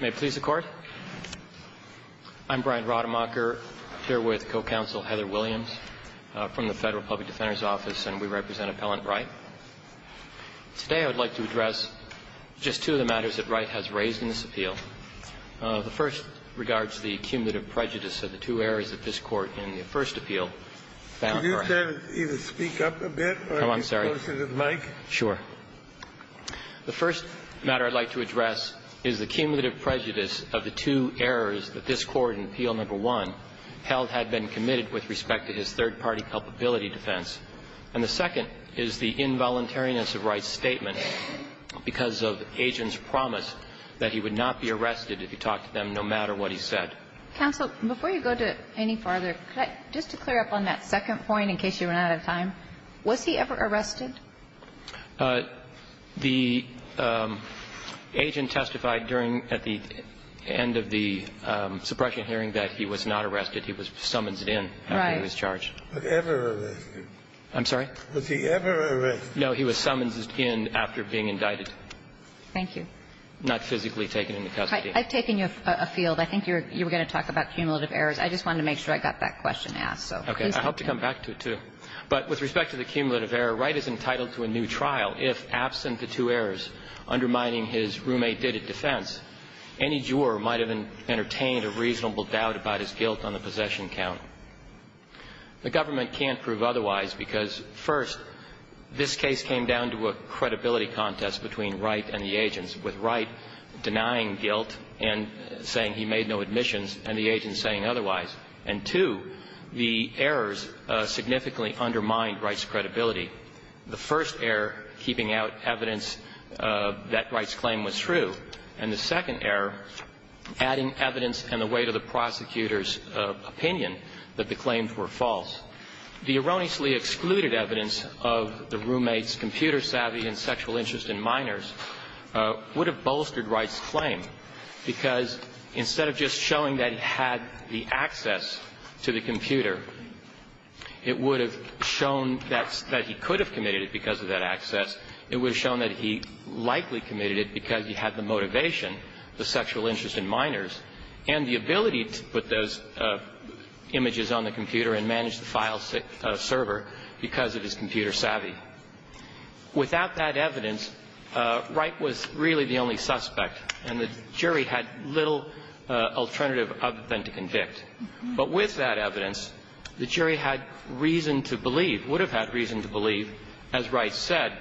May it please the Court. I'm Brian Rademacher, here with co-counsel Heather Williams from the Federal Public Defender's Office, and we represent Appellant Wright. Today I would like to address just two of the matters that Wright has raised in this appeal. The first regards the cumulative prejudice of the two errors that this Court in the first appeal found. Could you either speak up a bit, or are you closer to the mic? I'm sorry. Sure. The first matter I'd like to address is the cumulative prejudice of the two errors that this Court in Appeal No. 1 held had been committed with respect to his third-party culpability defense. And the second is the involuntariness of Wright's statement because of Agent's promise that he would not be arrested if he talked to them no matter what he said. Counsel, before you go to any further, just to clear up on that second point, in case you run out of time, was he ever arrested? The agent testified at the end of the suppression hearing that he was not arrested. He was summonsed in after he was charged. Right. Was he ever arrested? I'm sorry? Was he ever arrested? No. He was summonsed in after being indicted. Thank you. Not physically taken into custody. I've taken you afield. I think you were going to talk about cumulative errors. I just wanted to make sure I got that question asked. Okay. I hope to come back to it, too. But with respect to the cumulative error, Wright is entitled to a new trial if, absent the two errors undermining his roommate-dated defense, any juror might have entertained a reasonable doubt about his guilt on the possession count. The government can't prove otherwise because, first, this case came down to a credibility contest between Wright and the agents, with Wright denying guilt and saying he made no admissions and the agents saying otherwise. And, two, the errors significantly undermined Wright's credibility. The first error, keeping out evidence that Wright's claim was true. And the second error, adding evidence and the weight of the prosecutor's opinion that the claims were false. The erroneously excluded evidence of the roommate's computer savvy and sexual interest in minors would have bolstered Wright's claim because, instead of just showing that he had the access to the computer, it would have shown that he could have committed it because of that access. It would have shown that he likely committed it because he had the motivation, the sexual interest in minors, and the ability to put those images on the computer and manage the file server because of his computer savvy. Without that evidence, Wright was really the only suspect. And the jury had little alternative other than to convict. But with that evidence, the jury had reason to believe, would have had reason to believe, as Wright said,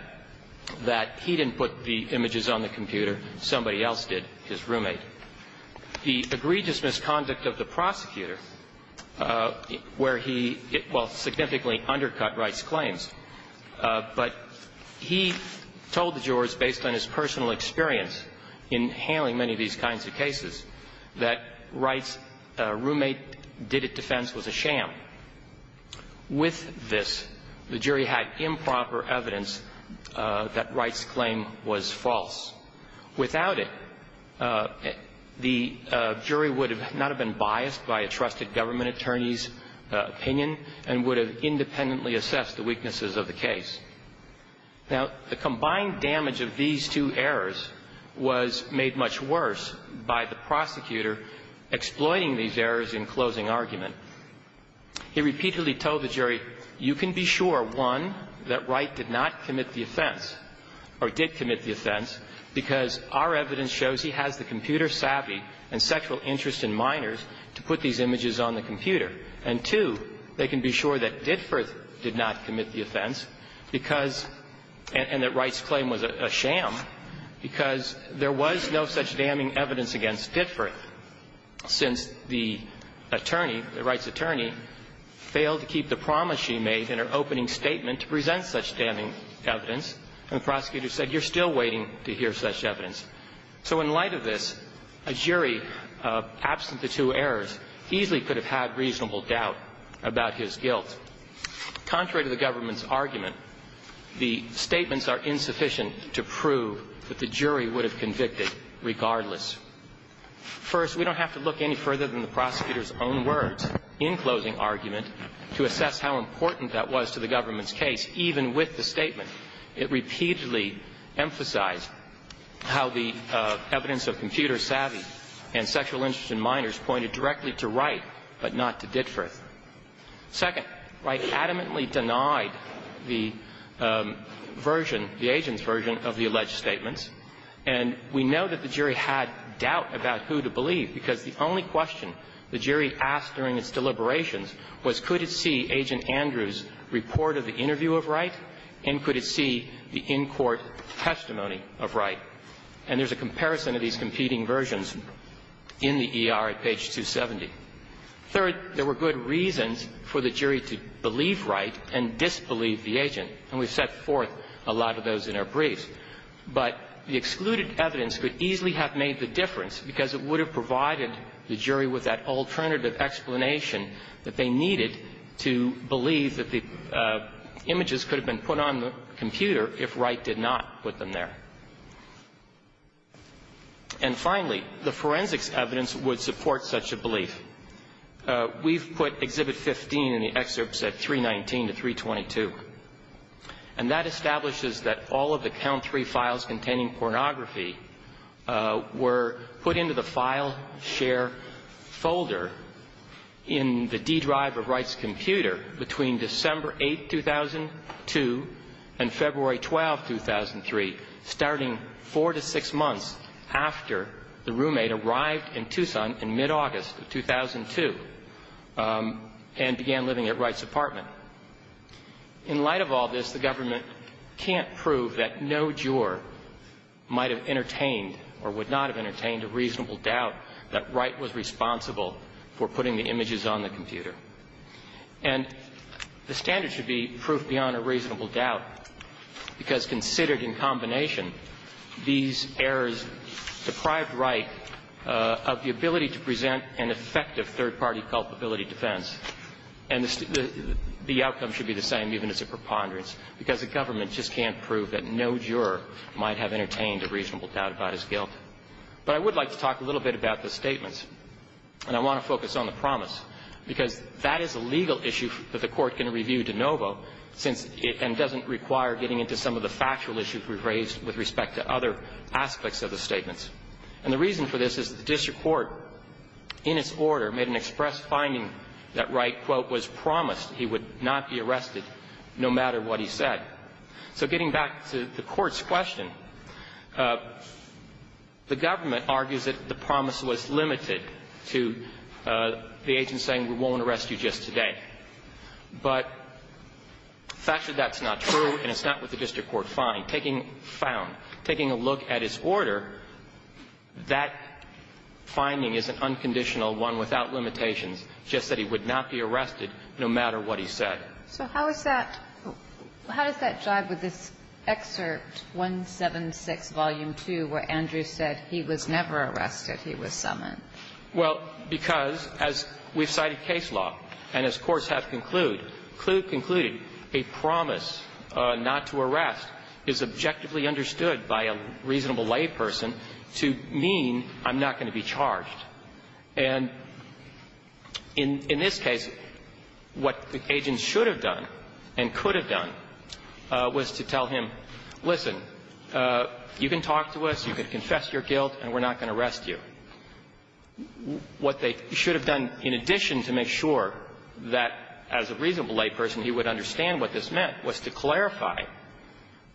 that he didn't put the images on the computer, somebody else did, his roommate. The egregious misconduct of the prosecutor, where he, well, significantly undercut Wright's claims. But he told the jurors, based on his personal experience in handling many of these kinds of cases, that Wright's roommate did it defense was a sham. With this, the jury had improper evidence that Wright's claim was false. Without it, the jury would not have been biased by a trusted government attorney's Now, the combined damage of these two errors was made much worse by the prosecutor exploiting these errors in closing argument. He repeatedly told the jury, you can be sure, one, that Wright did not commit the offense, or did commit the offense, because our evidence shows he has the computer savvy and sexual interest in minors to put these images on the computer. And, two, they can be sure that Ditforth did not commit the offense because – and that Wright's claim was a sham because there was no such damning evidence against Ditforth, since the attorney, the Wright's attorney, failed to keep the promise she made in her opening statement to present evidence, and the prosecutor said, you're still waiting to hear such evidence. So in light of this, a jury, absent the two errors, easily could have had reasonable doubt about his guilt. Contrary to the government's argument, the statements are insufficient to prove that the jury would have convicted regardless. First, we don't have to look any further than the prosecutor's own words in closing argument to assess how important that was to the government's case, even with the statement. It repeatedly emphasized how the evidence of computer savvy and sexual interest in minors pointed directly to Wright, but not to Ditforth. Second, Wright adamantly denied the version, the agent's version, of the alleged statements, and we know that the jury had doubt about who to believe, because the only question the jury asked during its deliberations was could it see Agent Andrew's report of the interview of Wright, and could it see the in-court testimony of Wright. And there's a comparison of these competing versions in the ER at page 270. Third, there were good reasons for the jury to believe Wright and disbelieve the agent, and we've set forth a lot of those in our briefs. But the excluded evidence could easily have made the difference, because it would have provided the jury with that alternative explanation that they needed to believe that the images could have been put on the computer if Wright did not put them there. And finally, the forensics evidence would support such a belief. We've put Exhibit 15 in the excerpts at 319 to 322, and that establishes that all of the count three files containing pornography were put into the file share folder in the D drive of Wright's computer between December 8, 2002, and February 12, 2003, starting four to six months after the roommate arrived in Tucson in mid-August of 2002 and began living at Wright's apartment. In light of all this, the government can't prove that no juror might have entertained or would not have entertained a reasonable doubt that Wright was responsible for putting the images on the computer. And the standard should be proof beyond a reasonable doubt, because considered in combination, these errors deprived Wright of the ability to present an effective third-party culpability defense. And the outcome should be the same, even as a preponderance, because the government just can't prove that no juror might have entertained a reasonable doubt about his guilt. But I would like to talk a little bit about the statements, and I want to focus on the promise, because that is a legal issue that the Court can review de novo since it doesn't require getting into some of the factual issues we've raised with respect to other aspects of the statements. And the reason for this is that the district court, in its order, made an express finding that Wright, quote, was promised he would not be arrested no matter what he said. So getting back to the Court's question, the government argues that the promise was limited to the agent saying, we won't arrest you just today. But factually, that's not true, and it's not what the district court found. Taking found, taking a look at its order, that finding is an unconditional one without limitations, just that he would not be arrested no matter what he said. So how is that – how does that jive with this excerpt 176, volume 2, where Andrew said he was never arrested, he was summoned? Well, because, as we've cited case law, and as courts have concluded, a promise not to arrest is objectively understood by a reasonable layperson to mean I'm not going to be charged. And in this case, what the agent should have done and could have done was to tell him, listen, you can talk to us, you can confess your guilt, and we're not going to arrest you. What they should have done in addition to make sure that as a reasonable layperson he would understand what this meant was to clarify,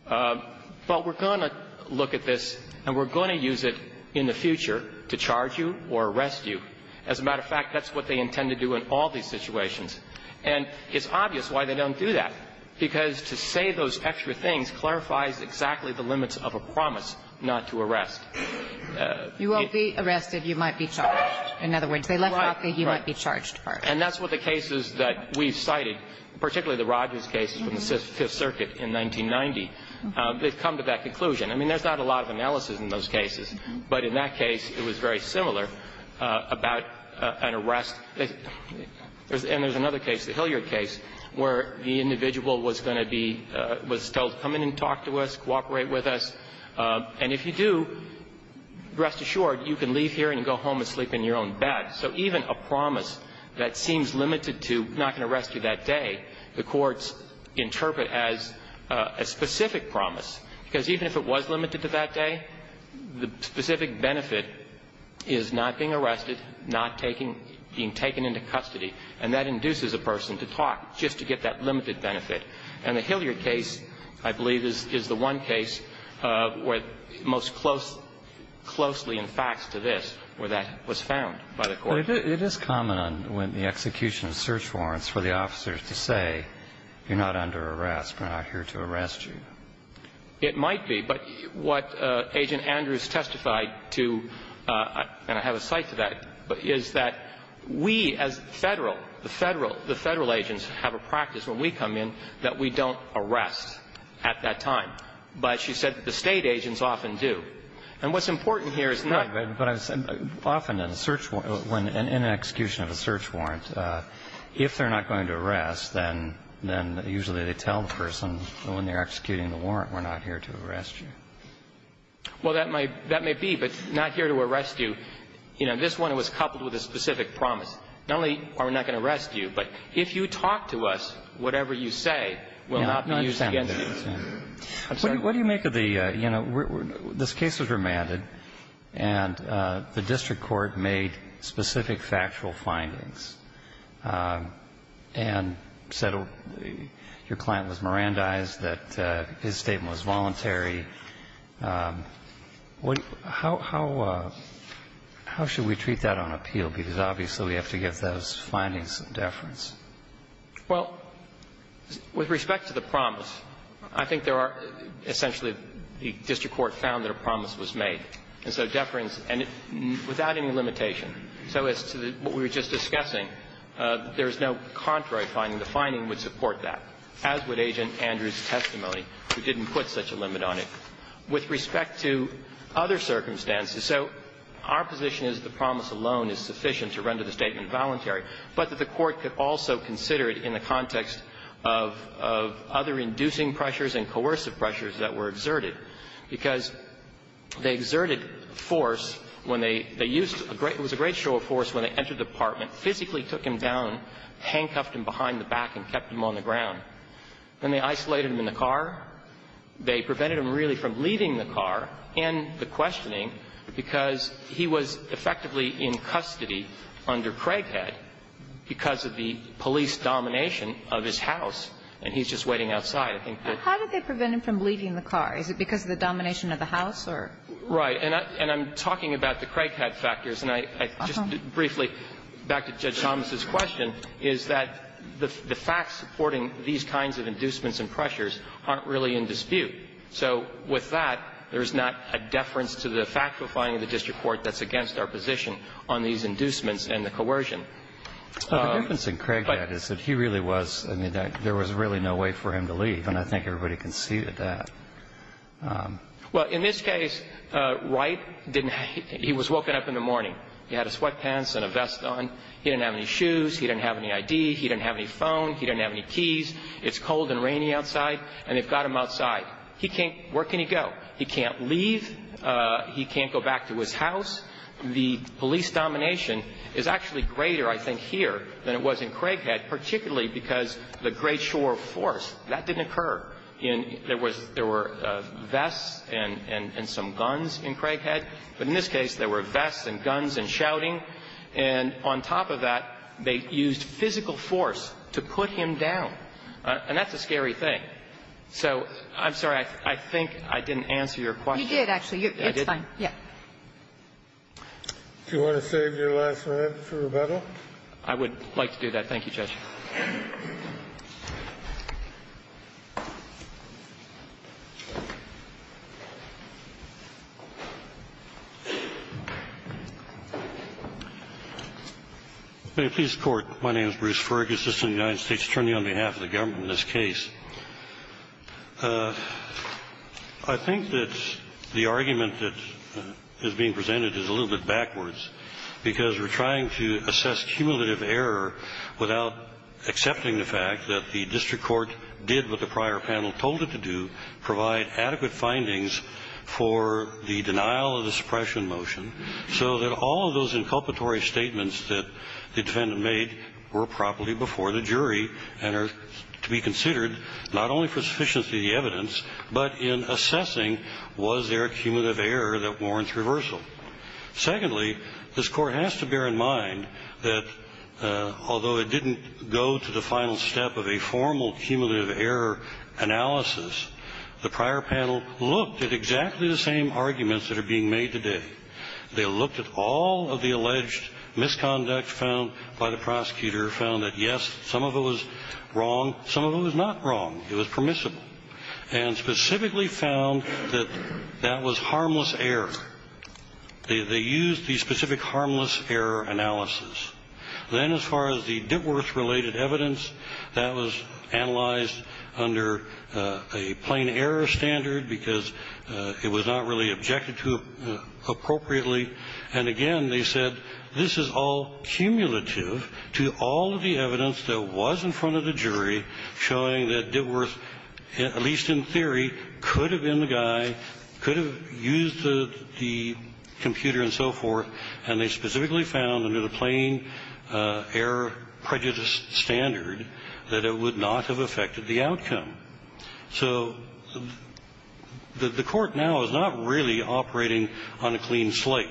but we're going to look at this and we're going to use it in the future to charge you or arrest you. As a matter of fact, that's what they intend to do in all these situations. And it's obvious why they don't do that, because to say those extra things clarifies exactly the limits of a promise not to arrest. You won't be arrested, you might be charged. In other words, they left out that you might be charged first. And that's what the cases that we've cited, particularly the Rodgers case from the Fifth Circuit in 1990, they've come to that conclusion. I mean, there's not a lot of analysis in those cases, but in that case it was very similar about an arrest – and there's another case, the Hilliard case, where the individual was going to be – was told to come in and talk to us, cooperate with us. And if you do, rest assured, you can leave here and go home and sleep in your own bed. So even a promise that seems limited to not going to arrest you that day, the courts interpret as a specific promise, because even if it was limited to that day, the specific benefit is not being arrested, not taking – being taken into custody, and that Hilliard case, I believe, is the one case where most close – closely in fact to this, where that was found by the court. But it is common on – when the execution of search warrants for the officers to say, you're not under arrest, we're not here to arrest you. It might be, but what Agent Andrews testified to, and I have a cite to that, is that we as Federal, the Federal – the Federal agents have a practice when we come in that we don't arrest at that time. But she said that the State agents often do. And what's important here is not – But I'm – often in a search – in an execution of a search warrant, if they're not going to arrest, then – then usually they tell the person, when they're executing the warrant, we're not here to arrest you. Well, that might – that may be, but not here to arrest you. You know, this one was coupled with a specific promise. Not only are we not going to arrest you, but if you talk to us, whatever you say will not be used against you. No, I understand that. I'm sorry. What do you make of the – you know, this case was remanded, and the district court made specific factual findings and said your client was Mirandized, that his statement was voluntary. What – how – how should we treat that on appeal, because obviously we have to give those findings some deference? Well, with respect to the promise, I think there are – essentially, the district court found that a promise was made, and so deference – and without any limitation. So as to the – what we were just discussing, there is no contrary finding. The finding would support that, as would Agent Andrews' testimony, who didn't put such a limit on it. With respect to other circumstances – so our position is the promise alone is sufficient to render the statement voluntary, but that the court could also consider it in the context of – of other inducing pressures and coercive pressures that were exerted, because they exerted force when they – they used a great – it was a great show of force when they entered the apartment, physically took him down, handcuffed him behind the back and kept him on the ground. Then they isolated him in the car. They prevented him really from leaving the car and the questioning because he was effectively in custody under Craighead because of the police domination of his house, and he's just waiting outside. I think that the – How did they prevent him from leaving the car? Is it because of the domination of the house or – Right. And I'm talking about the Craighead factors, and I – just briefly, back to Judge Thomas' question, is that the facts supporting these kinds of inducements and pressures aren't really in dispute. So with that, there is not a deference to the factifying of the district court that's against our position on these inducements and the coercion. But the difference in Craighead is that he really was – I mean, there was really no way for him to leave, and I think everybody can see that. Well, in this case, Wright didn't – he was woken up in the morning. He had his sweatpants and a vest on. He didn't have any shoes. He didn't have any ID. He didn't have any phone. He didn't have any keys. It's cold and rainy outside, and they've got him outside. He can't – where can he go? He can't leave. He can't go back to his house. The police domination is actually greater, I think, here than it was in Craighead, particularly because the great shore force, that didn't occur. There was – there were vests and some guns in Craighead, but in this case, there were vests and guns and shouting. And on top of that, they used physical force to put him down. And that's a scary thing. So I'm sorry, I think I didn't answer your question. You did, actually. It's fine. Yeah. Do you want to save your last minute for rebuttal? I would like to do that. Thank you, Judge. May it please the Court. My name is Bruce Fergus, assistant United States attorney on behalf of the government in this case. I think that the argument that is being presented is a little bit backwards, because we're trying to assess cumulative error without accepting the fact that the district court did what the prior panel told it to do, provide adequate findings for the denial of the suppression motion, so that all of those inculpatory statements that the defendant made were properly before the jury and are to be considered, not only for sufficiency of the evidence, but in assessing was there a cumulative error that warrants reversal. Secondly, this Court has to bear in mind that although it didn't go to the final step of a formal cumulative error analysis, the prior panel looked at exactly the same arguments that are being made today. They looked at all of the alleged misconduct found by the prosecutor, found that, yes, some of it was wrong, some of it was not wrong. It was permissible. And specifically found that that was harmless error. They used the specific harmless error analysis. Then as far as the Dittworth-related evidence, that was analyzed under a plain error standard, because it was not really objected to appropriately. And again, they said this is all cumulative to all of the evidence that was in front of the jury showing that Dittworth, at least in theory, could have been the guy, could have used the computer and so forth, and they specifically found under the plain error prejudice standard that it would not have affected the outcome. So the Court now is not really operating on a clean slate.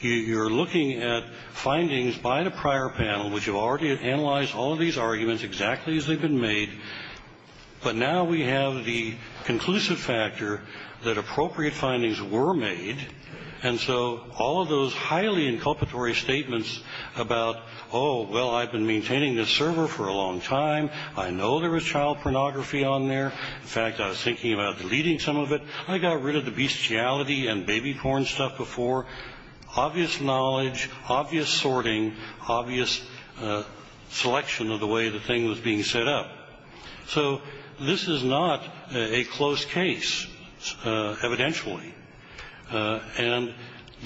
You're looking at findings by the prior panel which have already analyzed all of these arguments exactly as they've been made, but now we have the conclusive factor that appropriate findings were made. And so all of those highly inculpatory statements about, oh, well, I've been maintaining this server for a long time. I know there was child pornography on there. In fact, I was thinking about deleting some of it. I got rid of the bestiality and baby porn stuff before. Obvious knowledge, obvious sorting, obvious selection of the way the thing was being set up. So this is not a close case, evidentially. And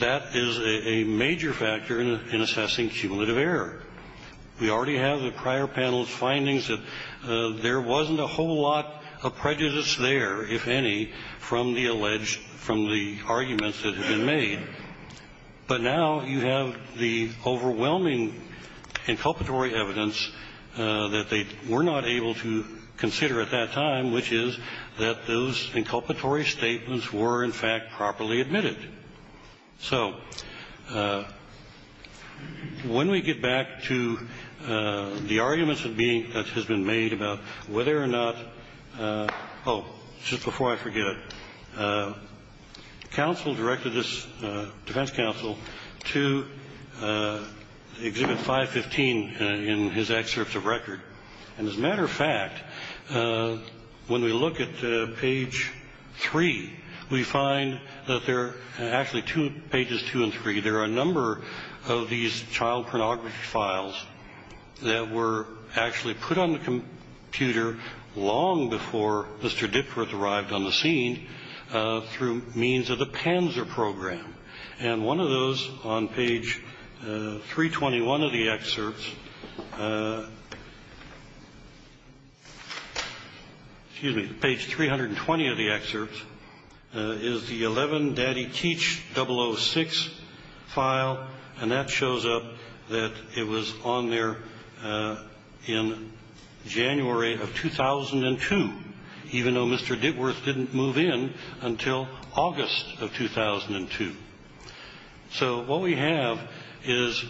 that is a major factor in assessing cumulative error. We already have the prior panel's findings that there wasn't a whole lot of prejudice there, if any, from the alleged, from the arguments that have been made. But now you have the overwhelming inculpatory evidence that they were not able to consider at that time, which is that those inculpatory statements were, in fact, properly admitted. So when we get back to the arguments that has been made about whether or not, oh, just before I forget it, counsel directed this defense counsel to exhibit 515 in his excerpts of record. And as a matter of fact, when we look at page 3, we find that there are actually two, pages 2 and 3, there are a number of these child pornography files that were actually put on the computer long before Mr. Dickworth arrived on the scene through means of the Panzer program. And one of those on page 321 of the excerpts, excuse me, page 320 of the excerpts, is the 11 Daddy Teach 006 file. And that shows up that it was on there in January of 2002, even though Mr. Dickworth didn't move in until August of 2002. So what we have is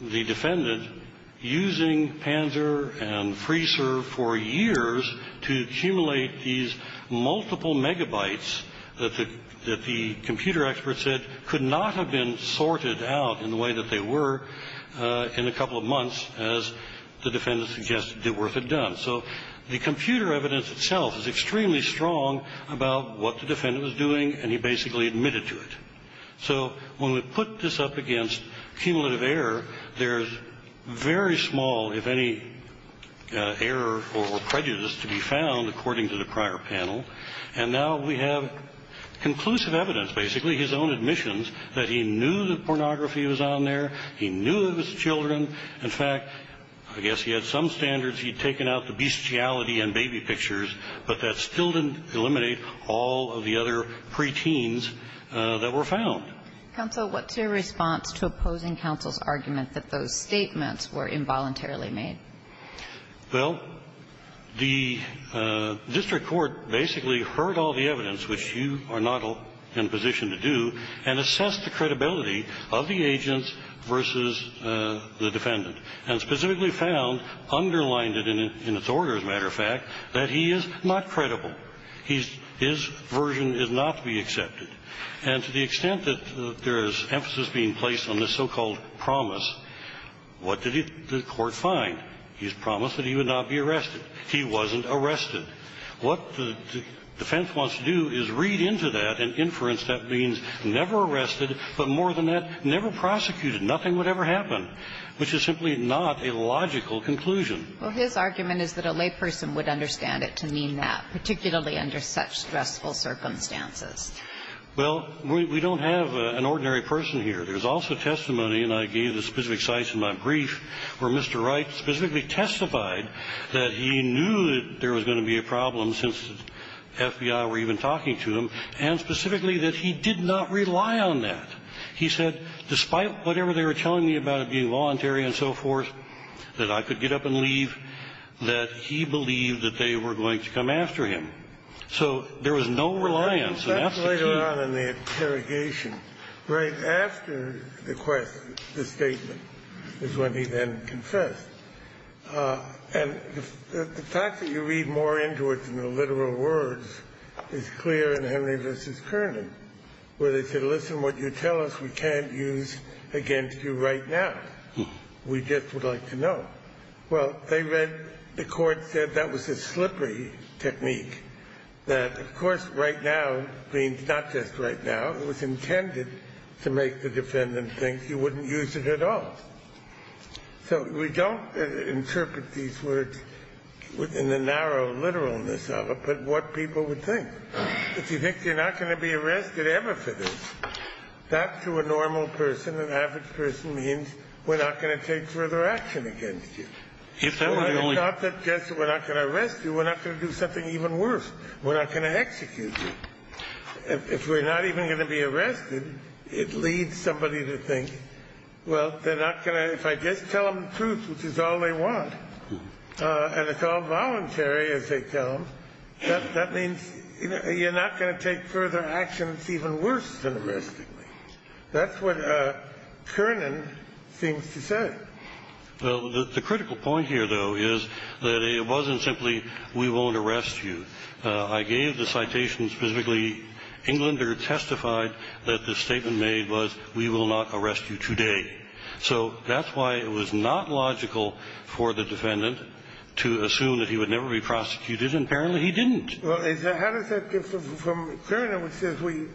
the defendant using Panzer and FreeServe for years to accumulate these multiple megabytes that the computer experts said could not have been sorted out in the way that they were in a couple of months, as the defendant suggested Dickworth had done. So the computer evidence itself is extremely strong about what the defendant was doing, and he basically admitted to it. So when we put this up against cumulative error, there's very small, if any, error or prejudice to be found, according to the prior panel. And now we have conclusive evidence, basically, his own admissions, that he knew that pornography was on there, he knew it was children. In fact, I guess he had some standards. He had taken out the bestiality and baby pictures, but that still didn't eliminate all of the other preteens that were found. Counsel, what's your response to opposing counsel's argument that those statements were involuntarily made? Well, the district court basically heard all the evidence, which you are not in a position to do, and assessed the credibility of the agents versus the defendant, and specifically found, underlined it in its order, as a matter of fact, that he is not credible. His version is not to be accepted. And to the extent that there is emphasis being placed on this so-called promise, what did the court find? He's promised that he would not be arrested. He wasn't arrested. What the defense wants to do is read into that and inference that means never arrested, but more than that, never prosecuted. Nothing would ever happen, which is simply not a logical conclusion. Well, his argument is that a layperson would understand it to mean that, particularly under such stressful circumstances. Well, we don't have an ordinary person here. There's also testimony, and I gave the specific sites in my brief, where Mr. Wright specifically testified that he knew that there was going to be a problem, since the FBI were even talking to him, and specifically that he did not rely on that. He said, despite whatever they were telling me about it being voluntary and so forth, that I could get up and leave, that he believed that they were going to come after him. So there was no reliance. And that's the key. The question was not in the interrogation. Right after the question, the statement, is when he then confessed. And the fact that you read more into it than the literal words is clear in Henry v. Kearney, where they said, listen, what you tell us we can't use against you right now. We just would like to know. Well, they read the court said that was a slippery technique, that of course, right now means not just right now. It was intended to make the defendant think you wouldn't use it at all. So we don't interpret these words within the narrow literalness of it, but what people would think. If you think you're not going to be arrested ever for this, that to a normal person, an average person, means we're not going to take further action against you. It's not that just we're not going to arrest you. We're not going to do something even worse. We're not going to execute you. If we're not even going to be arrested, it leads somebody to think, well, they're not going to – if I just tell them the truth, which is all they want, and it's all voluntary, as they tell them, that means you're not going to take further action that's even worse than arresting me. That's what Kernan seems to say. Well, the critical point here, though, is that it wasn't simply we won't arrest you. I gave the citation specifically, Englander testified that the statement made was we will not arrest you today. So that's why it was not logical for the defendant to assume that he would never be prosecuted, and apparently he didn't. Well, how does that differ from Kernan, which says we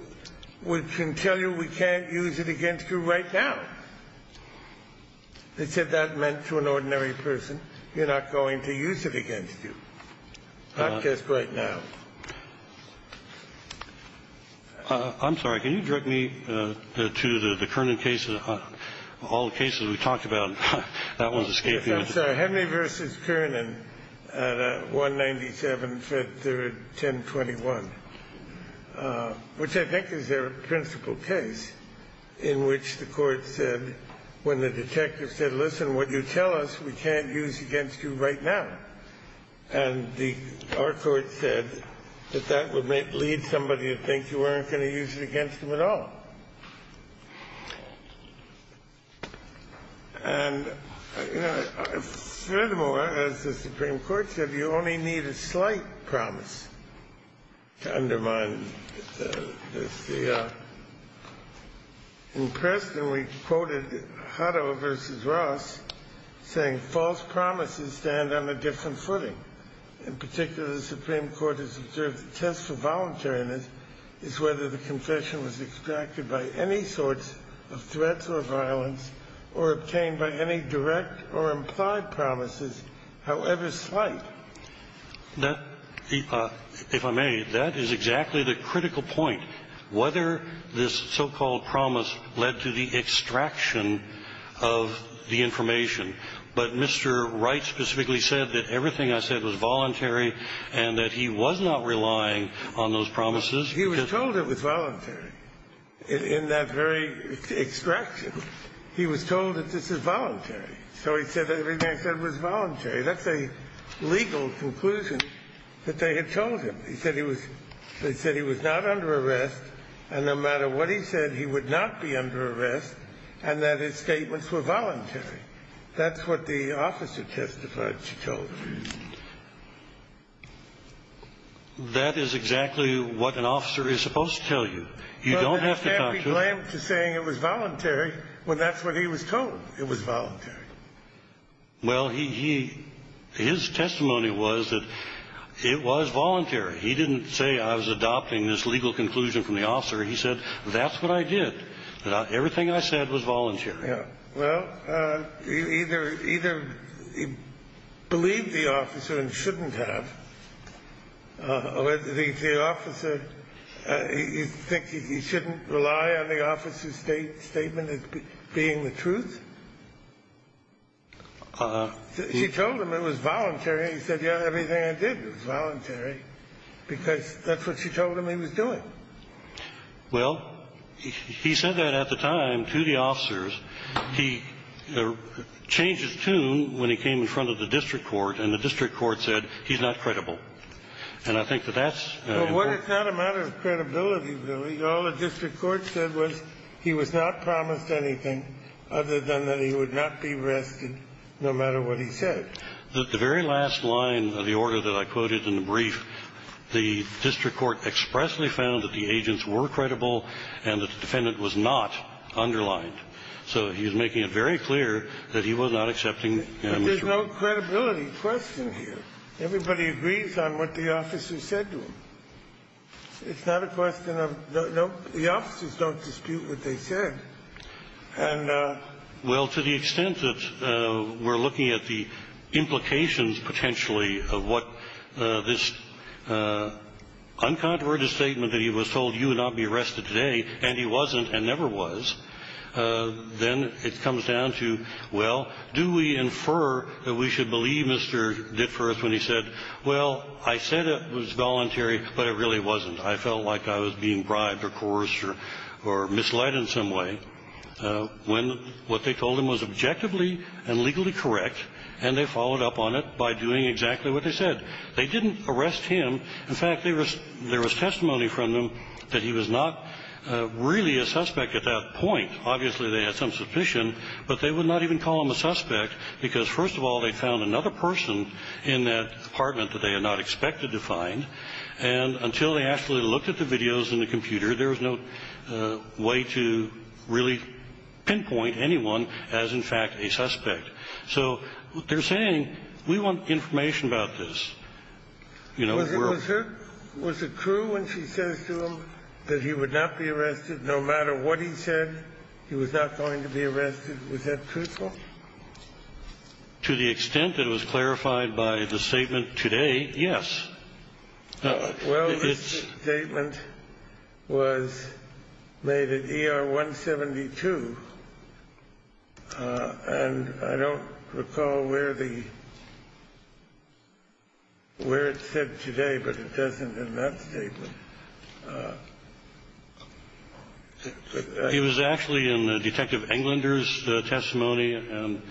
can tell you we can't use it against you right now? They said that meant to an ordinary person, you're not going to use it against you, not just right now. I'm sorry. Can you direct me to the Kernan cases, all the cases we talked about? That one's escaping me. That's Henry v. Kernan at 197, 5th, 3rd, 1021, which I think is their principal case, in which the Court said, when the detective said, listen, what you tell us, we can't use against you right now. And our Court said that that would lead somebody to think you weren't going to use it against them at all. And, you know, furthermore, as the Supreme Court said, you only need a slight promise to undermine this. In Preston, we quoted Hutto v. Ross saying, false promises stand on a different footing. In particular, the Supreme Court has observed the test for voluntariness is whether the confession was extracted by any sorts of threats or violence or obtained by any direct or implied promises, however slight. That, if I may, that is exactly the critical point, whether this so-called promise led to the extraction of the information. But Mr. Wright specifically said that everything I said was voluntary and that he was not relying on those promises. He was told it was voluntary. In that very extraction, he was told that this is voluntary. So he said that everything I said was voluntary. That's a legal conclusion that they had told him. They said he was not under arrest. And no matter what he said, he would not be under arrest and that his statements were voluntary. That's what the officer testified she told him. That is exactly what an officer is supposed to tell you. You don't have to talk to them. Well, you can't be blamed for saying it was voluntary when that's what he was told, it was voluntary. Well, he he his testimony was that it was voluntary. He didn't say I was adopting this legal conclusion from the officer. He said that's what I did, that everything I said was voluntary. Yeah. Well, either either he believed the officer and shouldn't have, or the officer thinks he shouldn't rely on the officer's statement as being the truth. She told him it was voluntary. He said, yeah, everything I did was voluntary because that's what she told him he was doing. Well, he said that at the time to the officers. He changed his tune when he came in front of the district court and the district court said he's not credible. And I think that that's what it's not a matter of credibility. All the district court said was he was not promised anything other than that he would not be arrested no matter what he said. The very last line of the order that I quoted in the brief, the district court expressly found that the agents were credible and the defendant was not underlined. So he was making it very clear that he was not accepting. There's no credibility question here. Everybody agrees on what the officer said to him. It's not a question of no. The officers don't dispute what they said. And to the extent that we're looking at the implications, potentially, of what this uncontroverted statement that he was told you would not be arrested today, and he wasn't and never was, then it comes down to, well, do we infer that we should believe Mr. Ditforth when he said, well, I said it was voluntary, but it really wasn't. I felt like I was being bribed or coerced or misled in some way when what they told him was objectively and legally correct, and they followed up on it by doing exactly what they said. They didn't arrest him. In fact, there was testimony from them that he was not really a suspect at that point. Obviously, they had some suspicion, but they would not even call him a suspect because, first of all, they found another person in that apartment that they had not expected to find. And until they actually looked at the videos in the computer, there was no way to really pinpoint anyone as, in fact, a suspect. So they're saying, we want information about this. You know, we're all ---- Sotomayor was it true when she says to him that he would not be arrested no matter what he said, he was not going to be arrested? Was that truthful? To the extent that it was clarified by the statement today, yes. Well, the statement was made at ER 172, and I don't recall where the ---- where it said today, but it doesn't in that statement. He was actually in Detective Englander's testimony, and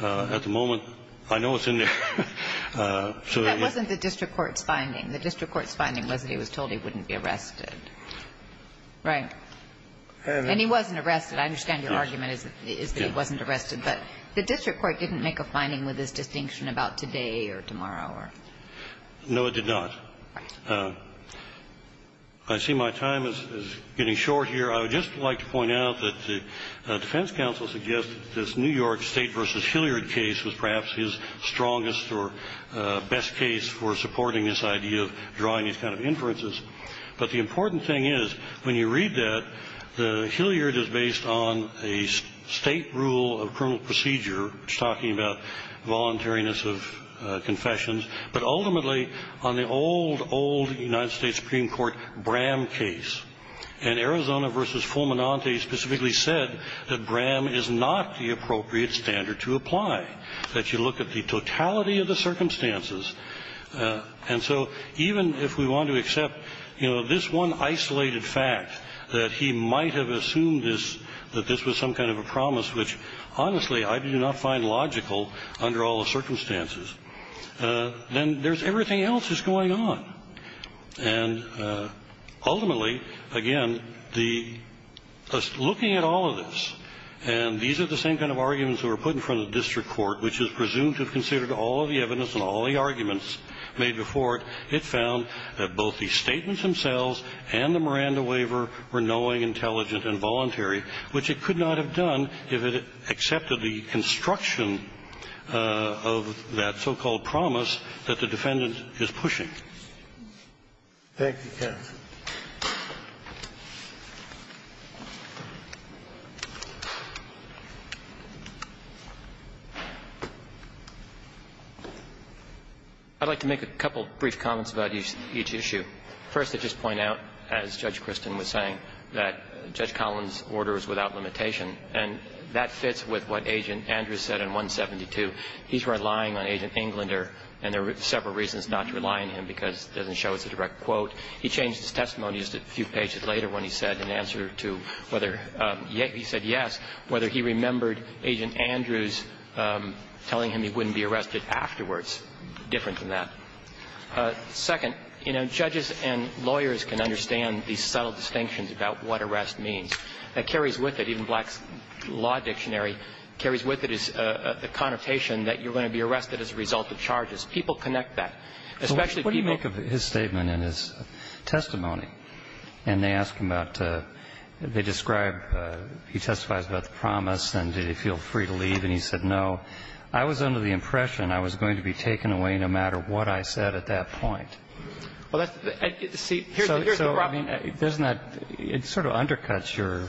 at the moment, I know it's in there. That wasn't the district court's finding. The district court's finding was that he was told he wouldn't be arrested. Right. And he wasn't arrested. I understand your argument is that he wasn't arrested. But the district court didn't make a finding with his distinction about today or tomorrow or ---- No, it did not. I see my time is getting short here. I would just like to point out that the defense counsel suggested this New York State v. Hilliard case was perhaps his strongest or best case for supporting this idea of drawing these kind of inferences. But the important thing is, when you read that, the Hilliard is based on a State rule of criminal procedure, which is talking about voluntariness of confessions, but ultimately on the old, old United States Supreme Court Bram case. And Arizona v. Fulminante specifically said that Bram is not the appropriate standard to apply, that you look at the totality of the circumstances. And so even if we want to accept, you know, this one isolated fact, that he might have assumed this, that this was some kind of a promise, which, honestly, I do not find logical under all the circumstances, then there's everything else that's going on. And ultimately, again, the ---- looking at all of this, and these are the same kind of arguments that were put in front of the district court, which is presumed to have considered all of the evidence and all the arguments made before it, it found that both the statements themselves and the Miranda waiver were knowing, intelligent, and voluntary, which it could not have done if it had accepted the construction of that so-called promise that the defendant is pushing. Thank you, counsel. I'd like to make a couple brief comments about each issue. First, I'd just point out, as Judge Kristin was saying, that Judge Collins' order is without limitation, and that fits with what Agent Andrews said in 172. He's relying on Agent Englander, and there are several reasons not to rely on him, because it doesn't show it's a direct quote. He changed his testimony just a few pages later when he said in answer to whether he said yes, whether he remembered Agent Andrews telling him he wouldn't be arrested afterwards, different than that. Second, you know, judges and lawyers can understand these subtle distinctions about what arrest means. That carries with it, even Black's Law Dictionary carries with it is the connotation that you're going to be arrested as a result of charges. People connect that. Especially people ---- Now, Judge Kristin's testimony, and they ask him about, they describe, he testifies about the promise, and did he feel free to leave, and he said no. I was under the impression I was going to be taken away no matter what I said at that point. Well, that's the ---- So, I mean, doesn't that ---- it sort of undercuts your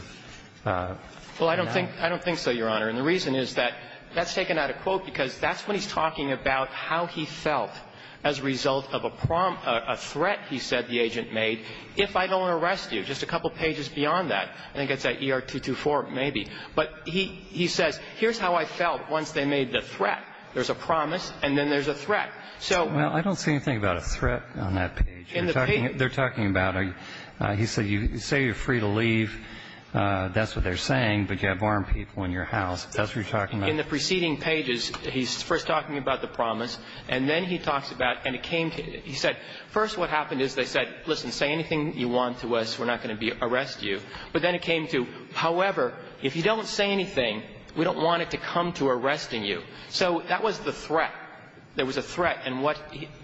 ---- Well, I don't think so, Your Honor, and the reason is that that's taken out of quote because that's when he's talking about how he felt as a result of a threat he said the agent made, if I don't arrest you, just a couple pages beyond that. I think it's at ER-224, maybe. But he says, here's how I felt once they made the threat. There's a promise, and then there's a threat. So ---- Well, I don't see anything about a threat on that page. In the page ---- They're talking about a ---- he said you say you're free to leave, that's what they're saying, but you have armed people in your house. That's what you're talking about. In the preceding pages, he's first talking about the promise, and then he talks about ---- and it came to ---- he said, first what happened is they said, listen, say anything you want to us, we're not going to be ---- arrest you. But then it came to, however, if you don't say anything, we don't want it to come to arresting you. So that was the threat. There was a threat, and what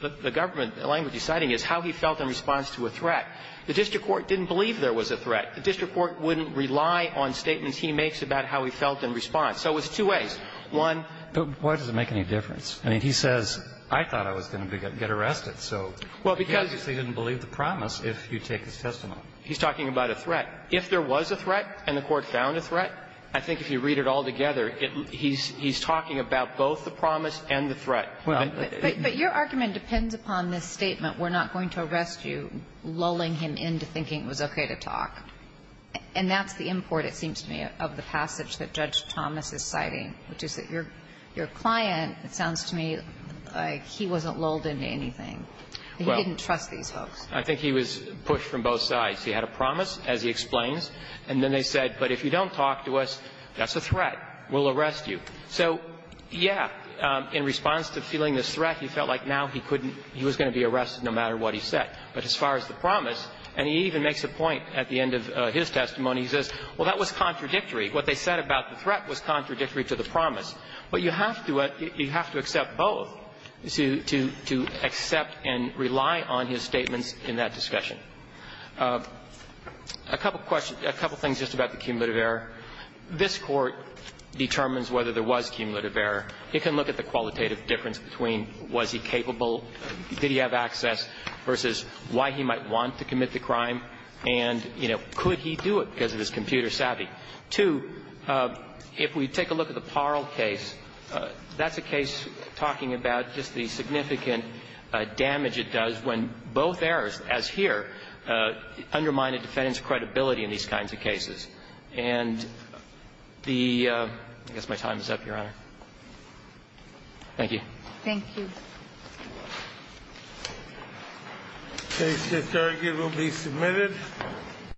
the government, the language he's citing is how he felt in response to a threat. The district court didn't believe there was a threat. The district court wouldn't rely on statements he makes about how he felt in response. So it was two ways. One ---- But why does it make any difference? I mean, he says, I thought I was going to get arrested, so ---- Well, because ---- He obviously didn't believe the promise if you take his testimony. He's talking about a threat. If there was a threat and the court found a threat, I think if you read it all together, he's talking about both the promise and the threat. Well ---- But your argument depends upon this statement, we're not going to arrest you, lulling him into thinking it was okay to talk. And that's the import, it seems to me, of the passage that Judge Thomas is citing, which is that your client, it sounds to me like he wasn't lulled into anything. He didn't trust these folks. I think he was pushed from both sides. He had a promise, as he explains, and then they said, but if you don't talk to us, that's a threat. We'll arrest you. So, yeah, in response to feeling this threat, he felt like now he couldn't ---- he was going to be arrested no matter what he said. But as far as the promise, and he even makes a point at the end of his testimony, he says, well, that was contradictory. What they said about the threat was contradictory to the promise. But you have to accept both to accept and rely on his statements in that discussion. A couple of questions ---- a couple of things just about the cumulative error. This Court determines whether there was cumulative error. It can look at the qualitative difference between was he capable, did he have access versus why he might want to commit the crime, and, you know, could he do it because of his computer savvy. Two, if we take a look at the Parle case, that's a case talking about just the significant damage it does when both errors, as here, undermine a defendant's credibility in these kinds of cases. And the ---- I guess my time is up, Your Honor. Thank you. Thank you. The case is argued and will be submitted.